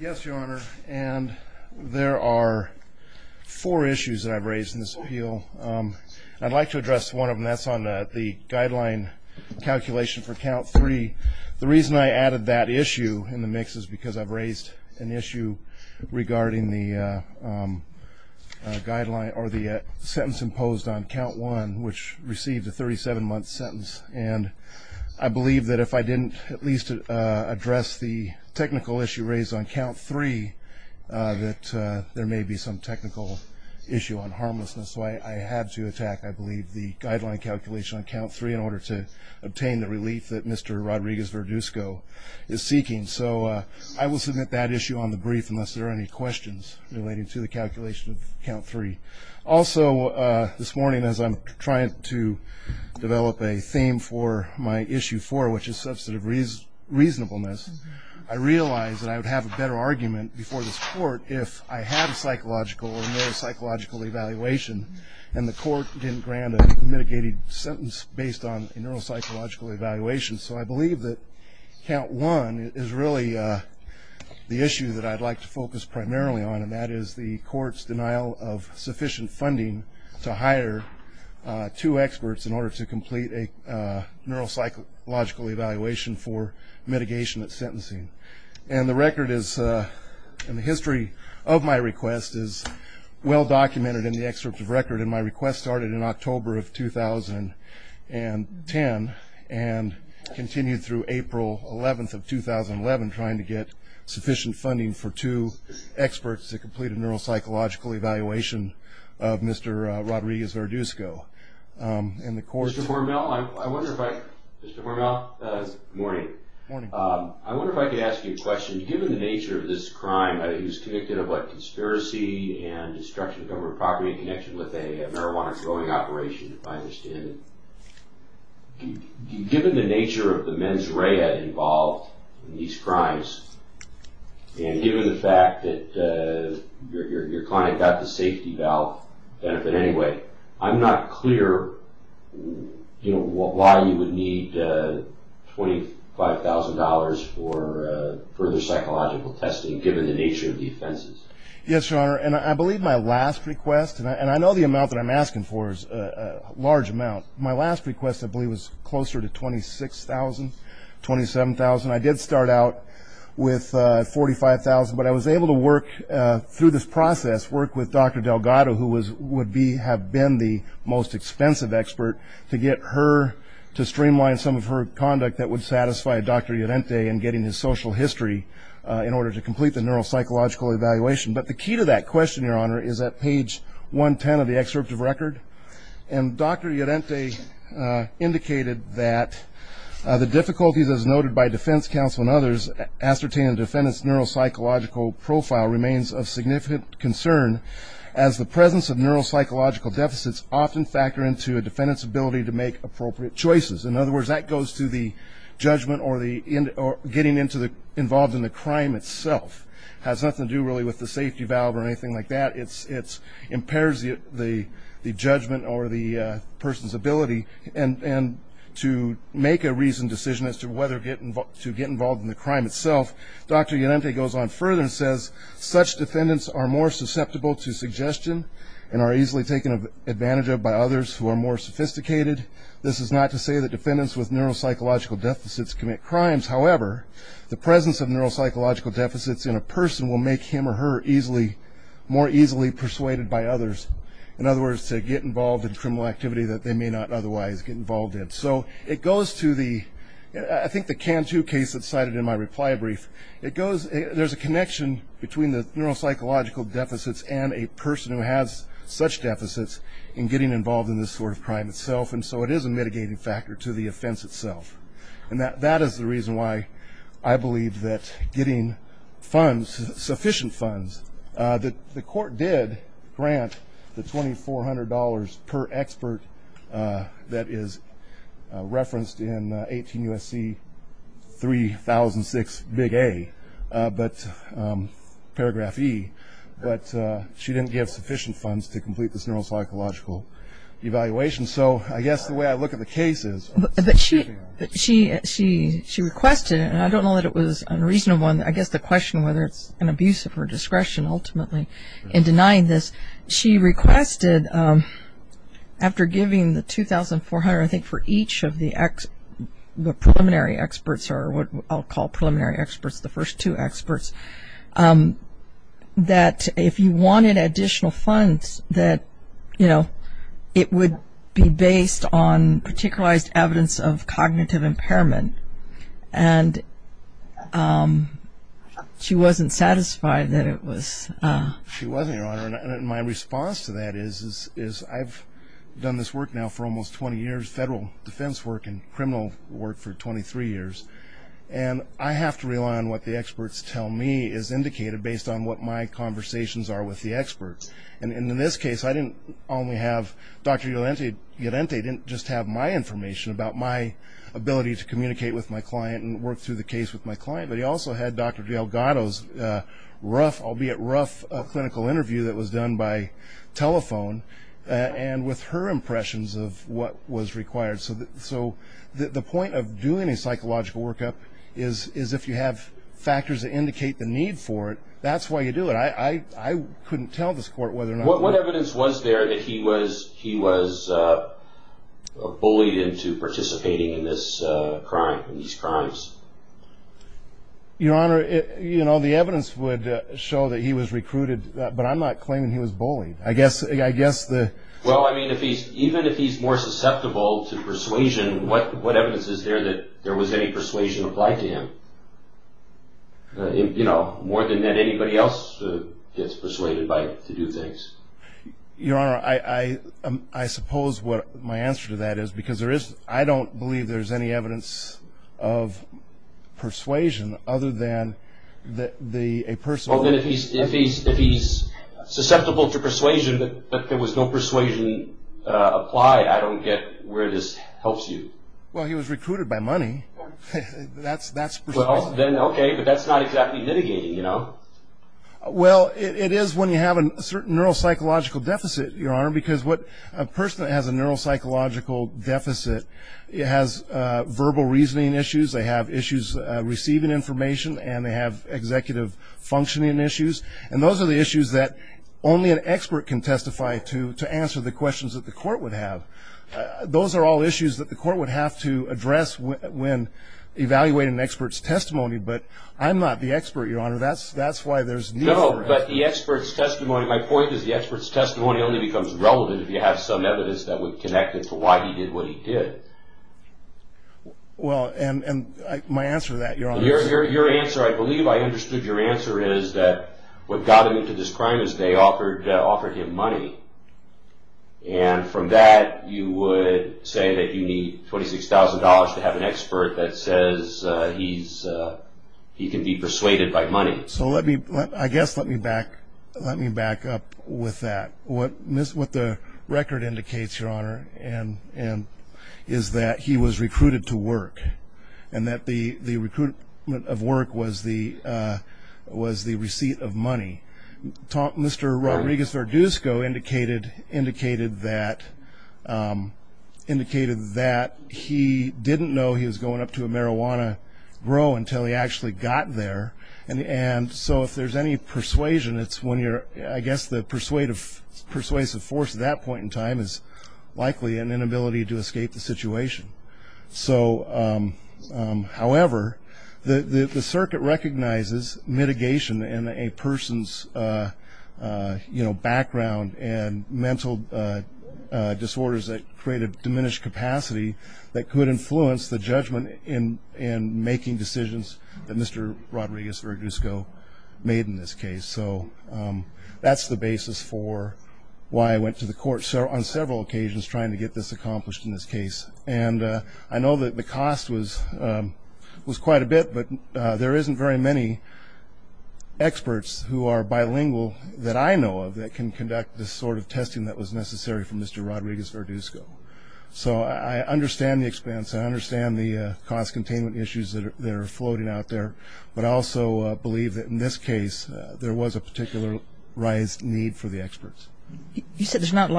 yes your honor and there are four issues that I've raised in this appeal I'd like to address one of them that's on the guideline calculation for count three the reason I added that issue in the mix is because I've raised an issue regarding the guideline or the sentence imposed on count one which received a 37 month sentence and I believe that if I didn't at least address the technical issue raised on count three that there may be some technical issue on harmlessness so I had to attack I believe the guideline calculation on count three in order to obtain the relief that mr. Rodriguez-Verdusco is seeking so I will submit that issue on the brief unless there are any questions relating to the calculation of count three also this morning as I'm trying to develop a theme for my issue for which is substantive reasonableness I realize that I would have a better argument before the court if I have a psychological or neuropsychological evaluation and the court didn't grant a mitigated sentence based on neuropsychological evaluation so I believe that count one is really the issue that I'd like to focus primarily on and that is the court's denial of sufficient funding to hire two experts in order to complete a neuropsychological evaluation for mitigation of and the record is in the history of my request is well documented in the excerpt of record in my request started in October of 2010 and continued through April 11th of 2011 trying to get sufficient funding for two experts to complete a neuropsychological evaluation of mr. Rodriguez-Verdusco in the court Mr. Hormel, I wonder if I could ask you a question given the nature of this crime who's convicted of what conspiracy and destruction of government property in connection with a marijuana growing operation if I understand it given the nature of the mens rea involved in these crimes and given the fact that your I'm not clear you know why you would need $25,000 for further psychological testing given the nature of the offenses yes your honor and I believe my last request and I know the amount that I'm asking for is a large amount my last request I believe was closer to 26,000 27,000 I did start out with 45,000 but I was able to work through this process work with dr. Delgado who was would be have been the most expensive expert to get her to streamline some of her conduct that would satisfy dr. Llorente and getting his social history in order to complete the neuropsychological evaluation but the key to that question your honor is that page 110 of the excerpt of record and dr. Llorente indicated that the difficulties as noted by defense counsel and others ascertained defendants neuropsychological profile remains of concern as the presence of neuropsychological deficits often factor into a defendant's ability to make appropriate choices in other words that goes to the judgment or the end or getting into the involved in the crime itself has nothing to do really with the safety valve or anything like that it's it's impairs you the the judgment or the person's ability and and to make a reasoned decision as to whether getting to get involved in the crime itself dr. defendants are more susceptible to suggestion and are easily taken advantage of by others who are more sophisticated this is not to say that defendants with neuropsychological deficits commit crimes however the presence of neuropsychological deficits in a person will make him or her easily more easily persuaded by others in other words to get involved in criminal activity that they may not otherwise get involved in so it goes to the I think the can to case that cited in my reply brief it goes there's a connection between the neuropsychological deficits and a person who has such deficits in getting involved in this sort of crime itself and so it is a mitigating factor to the offense itself and that that is the reason why I believe that getting funds sufficient funds that the court did grant the $2,400 per expert that is but she didn't give sufficient funds to complete this neuropsychological evaluation so I guess the way I look at the case is that she she she she requested and I don't know that it was unreasonable and I guess the question whether it's an abuse of her discretion ultimately in denying this she requested after giving the 2,400 I think for each of the X the preliminary experts are what I'll call preliminary experts the first two experts that if you wanted additional funds that you know it would be based on particularized evidence of cognitive impairment and she wasn't satisfied that it was my response to that is is I've done this work now for almost 20 years federal defense work and I have to rely on what the experts tell me is indicated based on what my conversations are with the experts and in this case I didn't only have dr. Yolanda you didn't they didn't just have my information about my ability to communicate with my client and work through the case with my client but he also had dr. de Elgato's rough albeit rough clinical interview that was done by telephone and with her impressions of what was required so that so the point of doing a psychological workup is is if you have factors that indicate the need for it that's why you do it I I couldn't tell this court whether or not what evidence was there that he was he was bullied into participating in this crime these crimes your honor it you know the evidence would show that he was recruited but I'm not claiming he was bullied I guess I guess the well I mean even if he's more susceptible to persuasion what what evidence is there that there was any persuasion applied to him you know more than that anybody else gets persuaded by to do things your honor I I suppose what my answer to that is because there is I don't believe there's any evidence of persuasion other than that the a person if he's if he's susceptible to persuasion but there was no persuasion applied I don't get where this helps you well he was recruited by money that's that's okay but that's not exactly mitigating you know well it is when you have a certain neuropsychological deficit your honor because what a person that has a neuropsychological deficit it has verbal reasoning issues they have issues receiving information and they have executive functioning issues and those are the issues that only an expert can to answer the questions that the court would have those are all issues that the court would have to address when evaluating an expert's testimony but I'm not the expert your honor that's that's why there's no but the expert's testimony my point is the expert's testimony only becomes relevant if you have some evidence that would connect it to why he did what he did well and and my answer that you're on your answer I believe I understood your answer is that what got him into this crime is they offered offered him money and from that you would say that you need $26,000 to have an expert that says he's he can be persuaded by money so let me I guess let me back let me back up with that what miss what the record indicates your honor and and is that he was recruited to work and that the the recruitment of work was the was the receipt of money mr. Rodriguez Verduzco indicated indicated that indicated that he didn't know he was going up to a marijuana grow until he actually got there and and so if there's any persuasion it's when you're I guess the persuasive persuasive force at that point in time is likely an inability to escape the situation so however the the circuit recognizes mitigation in a person's you know background and mental disorders that create a diminished capacity that could influence the judgment in in making decisions that mr. Rodriguez Verduzco made in this case so that's the basis for why I went to the court so on the cost was was quite a bit but there isn't very many experts who are bilingual that I know of that can conduct this sort of testing that was necessary for mr. Rodriguez Verduzco so I understand the expense I understand the cost containment issues that are floating out there but also believe that in this case there was a particular rise need for the experts you said there's Dr.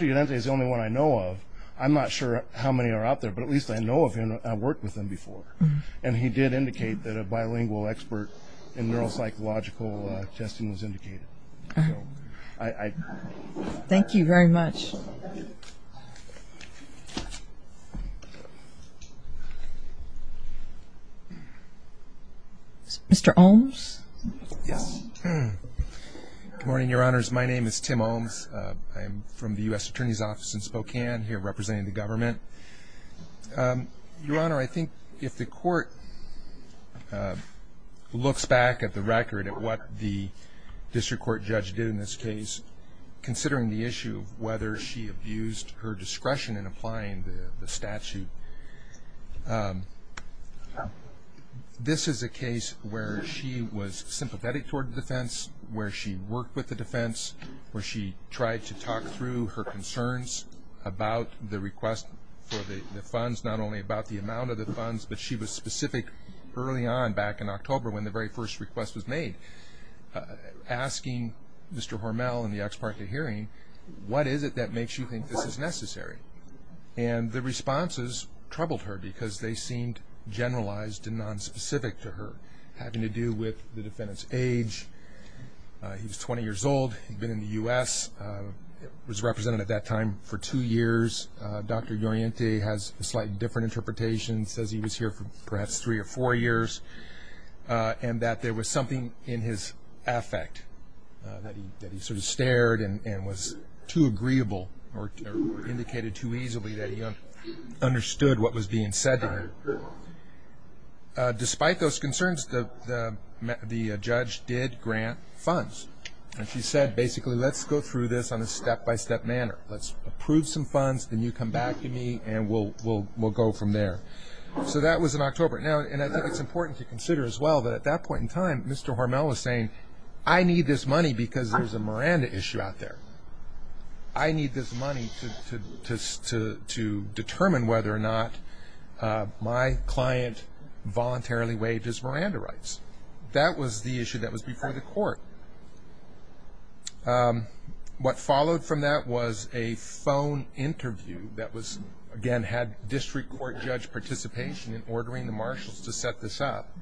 Udente is the only one I know of I'm not sure how many are out there but at least I know of him I worked with him before and he did indicate that a bilingual expert in neuropsychological testing was indicated I thank you very much mr. Holmes yes morning your honors my name is Tim Holmes I'm from the US Attorney's Office in Spokane here representing the government your honor I think if the court looks back at the record at what the district court judge did in this case considering the issue of whether she abused her discretion in applying the statute this is a case where she was sympathetic toward the defense where she worked with the defense where she tried to talk through her concerns about the request for the funds not only about the amount of the funds but she was specific early on back in October when the very first request was made asking mr. Hormel in the ex parte hearing what is it that makes you think this is necessary and the responses troubled her because they seemed generalized and non-specific to her having to do with the defendant's age he was 20 years old he'd been in the u.s. was represented at that time for two years dr. Udente has a slightly different interpretation says he was here for perhaps three or four years and that there was something in his affect that he sort of stared and was too agreeable or indicated too easily that he understood what was being said despite those concerns the the judge did grant funds and she said basically let's go through this on a step-by-step manner let's approve some funds then you come back to me and we'll we'll we'll go from there so that was in October now and I think it's important to consider as well that at that point in time mr. Hormel was saying I need this money because there's a Miranda issue out there I need this money to just to determine whether or not my client voluntarily waived his Miranda rights that was the issue that was before the court what followed from that was a phone interview that was again had district court judge participation in ordering the marshals to set this up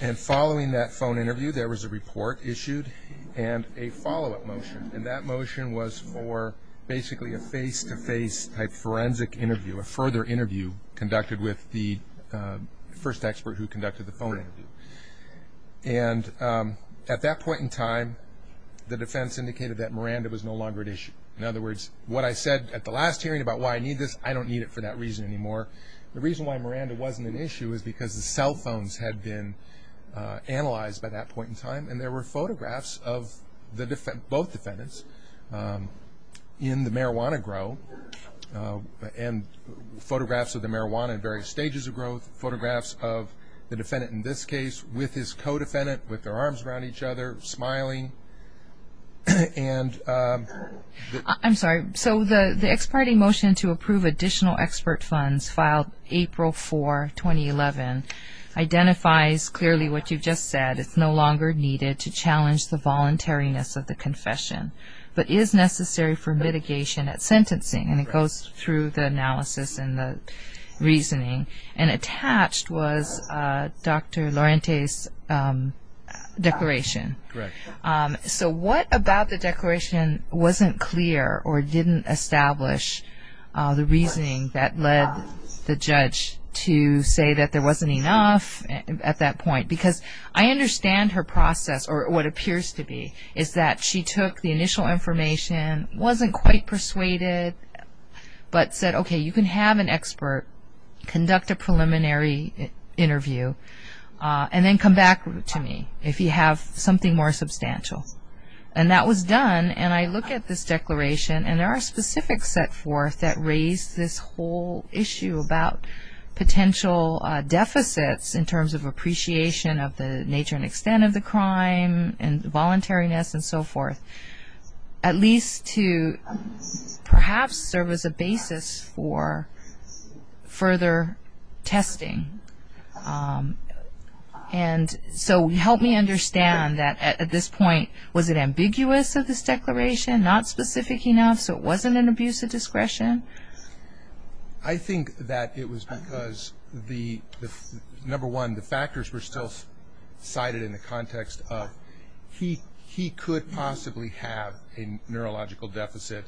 and following that phone interview there was a report issued and a follow-up motion and that motion was for basically a face-to-face type forensic interview a further interview conducted with the first expert who conducted the phone and at that point in time the defense indicated that Miranda was no longer at issue in other words what I said at the last hearing about why need this I don't need it for that reason anymore the reason why Miranda wasn't an issue is because the cell phones had been analyzed by that point in time and there were photographs of the different both defendants in the marijuana grow and photographs of the marijuana in various stages of growth photographs of the defendant in this case with his co-defendant with their arms around each other smiling and I'm sorry so the the ex parte motion to approve additional expert funds filed April 4 2011 identifies clearly what you've just said it's no longer needed to challenge the voluntariness of the confession but is necessary for mitigation at sentencing and it goes through the analysis and the reasoning and attached was dr. Laurentiis declaration so what about the declaration wasn't clear or didn't establish the reasoning that led the judge to say that there wasn't enough at that point because I understand her process or what appears to be is that she took the initial information wasn't quite persuaded but said okay you can have an expert conduct a preliminary interview and then come back to me if you have something more substantial and that was done and I look at this set forth that raised this whole issue about potential deficits in terms of appreciation of the nature and extent of the crime and voluntariness and so forth at least to perhaps serve as a basis for further testing and so help me understand that at this point was it ambiguous of this declaration not specific enough so it wasn't an abuse of discretion I think that it was because the number one the factors were still cited in the context of he he could possibly have a neurological deficit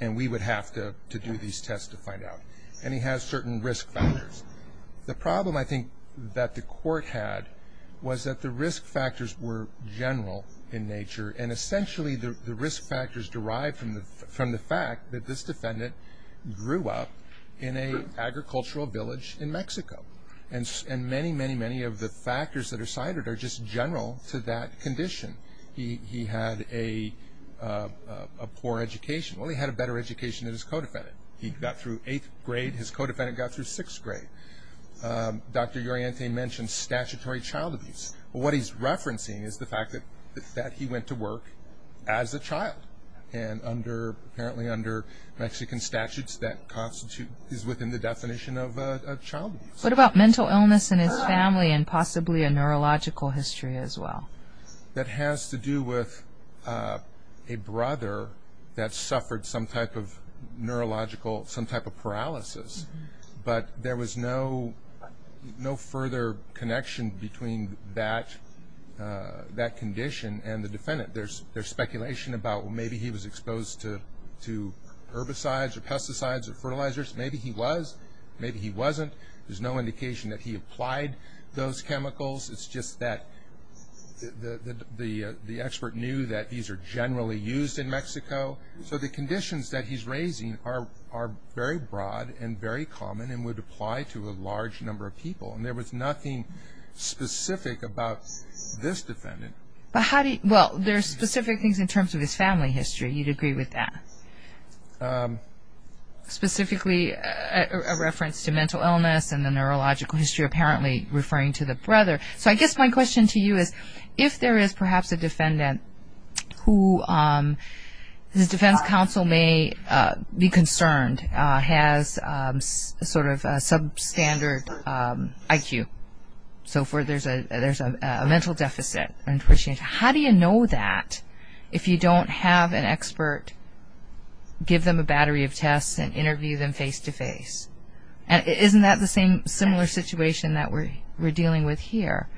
and we would have to do these tests to find out and he has certain risk the problem I think that the court had was that the risk factors were general in nature and essentially the risk factors derived from the from the fact that this defendant grew up in a agricultural village in Mexico and and many many many of the factors that are cited are just general to that condition he he had a poor education well he had a better education in his co-defendant he got through eighth grade his co-defendant got through sixth grade dr. Uriente mentioned statutory child what he's referencing is the fact that he went to work as a child and under apparently under Mexican statutes that constitute is within the definition of a child what about mental illness in his family and possibly a neurological history as well that has to do with a brother that suffered some type of neurological some type of paralysis but there was no no further connection between that that condition and the defendant there's there's speculation about maybe he was exposed to herbicides or pesticides or fertilizers maybe he was maybe he wasn't there's no indication that he applied those chemicals it's just that the the the expert knew that these are generally used in Mexico so the conditions that he's raising are are very broad and very specific about this defendant but how do you well there are specific things in terms of his family history you'd agree with that specifically a reference to mental illness and the neurological history apparently referring to the brother so I guess my question to you is if there is perhaps a defendant who the there's a there's a mental deficit how do you know that if you don't have an expert give them a battery of tests and interview them face-to-face and isn't that the same similar situation that we're we're dealing with here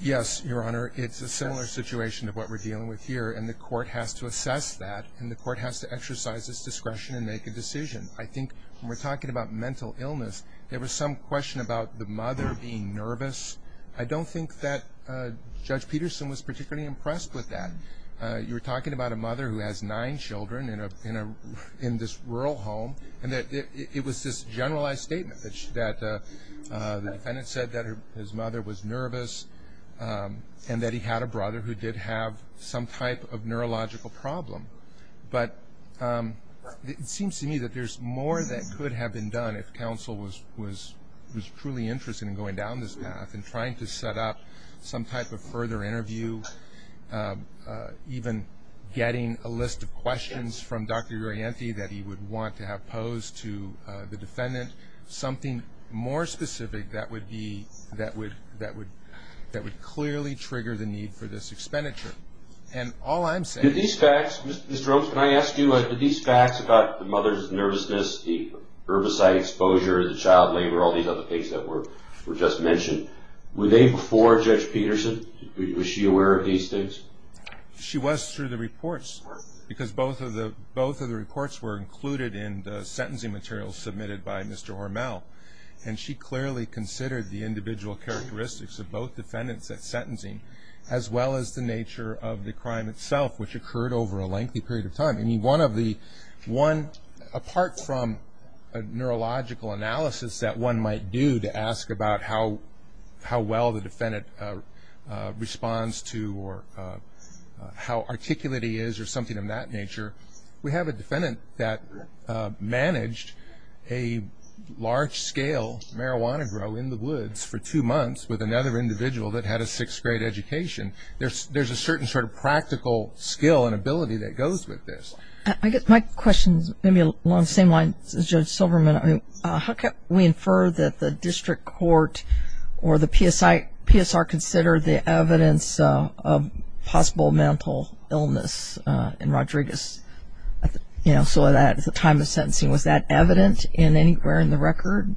yes your honor it's a similar situation of what we're dealing with here and the court has to assess that and the court has to exercise this discretion and make a decision I think we're talking about mental illness there was some question about the mother being nervous I don't think that judge Peterson was particularly impressed with that you're talking about a mother who has nine children in a in a in this rural home and that it was this generalized statement that the defendant said that his mother was nervous and that he had a brother who did have some type of neurological problem but it seems to me that there's more that could have been done if counsel was was was truly interested in going down this path and trying to set up some type of further interview even getting a list of questions from dr. Yankee that he would want to have posed to the defendant something more specific that would be that would that would that would clearly trigger the need for this expenditure and all I'm saying these facts mr. Jones can I ask you what did these facts about the mother's nervousness the herbicide exposure the child labor all these other things that were were just mentioned were they before judge Peterson was she aware of these things she was through the reports because both of the both of the reports were included in the sentencing materials submitted by mr. Hormel and she clearly considered the individual characteristics of both defendants that sentencing as well as the nature of the crime itself which occurred over a lengthy period of time and one of the one apart from a neurological analysis that one might do to ask about how how well the defendant responds to or how articulate he is or something of that nature we have a defendant that managed a large-scale marijuana grow in the woods for two individual that had a sixth-grade education there's there's a certain sort of practical skill and ability that goes with this I get my questions maybe along the same line judge Silverman I mean how can we infer that the district court or the PSI PSR considered the evidence of possible mental illness in Rodriguez you know so that at the time of sentencing was that evident in anywhere in the record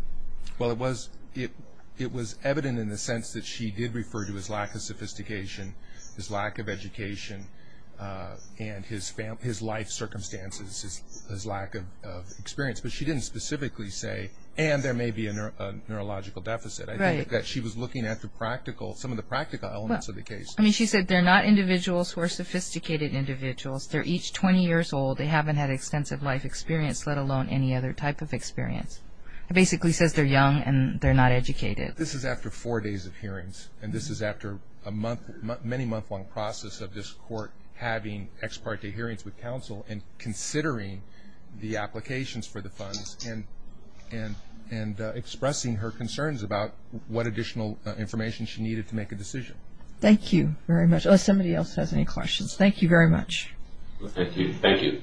well it was it it was evident in the sense that she did refer to his lack of sophistication his lack of education and his family his life circumstances his lack of experience but she didn't specifically say and there may be a neurological deficit I think that she was looking at the practical some of the practical elements of the case I mean she said they're not individuals who are sophisticated individuals they're each 20 years old they haven't had extensive life experience let alone any other type of experience it basically says they're young and they're not educated this is after four days of hearings and this is after a month many month-long process of this court having ex parte hearings with counsel and considering the applications for the funds and and and expressing her concerns about what additional information she needed to make a decision thank you very much somebody else has any questions thank you very much thank you thank you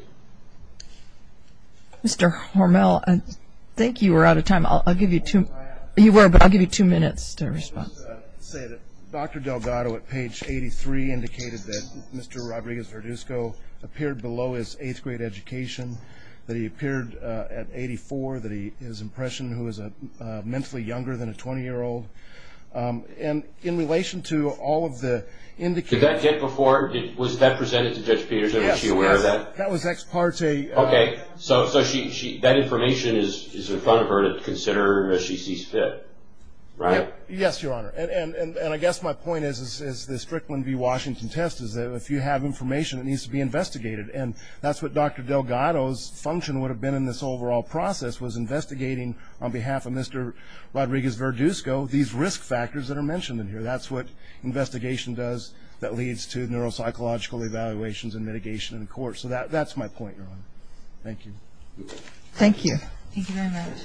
mr. Hormel and thank you we're out of time I'll give you two you were but I'll give you two minutes to respond say that dr. Delgado at page 83 indicated that mr. Rodriguez Verduzco appeared below his eighth grade education that he appeared at 84 that he his impression who is a mentally younger than a 20 year old and in relation to all of the in the kid that kid before it was that presented to judge Peterson she aware of that that was ex parte okay so so she that information is in front of her to consider if she sees fit right yes your honor and and and I guess my point is is the Strickland v Washington test is that if you have information it needs to be investigated and that's what dr. Delgado's function would have been in this overall process was investigating on behalf of mr. Rodriguez Verduzco these risk factors that are mentioned in here that's what investigation does that leads to neuropsychological evaluations and mitigation in court so that that's my point your honor thank you thank you thank you very much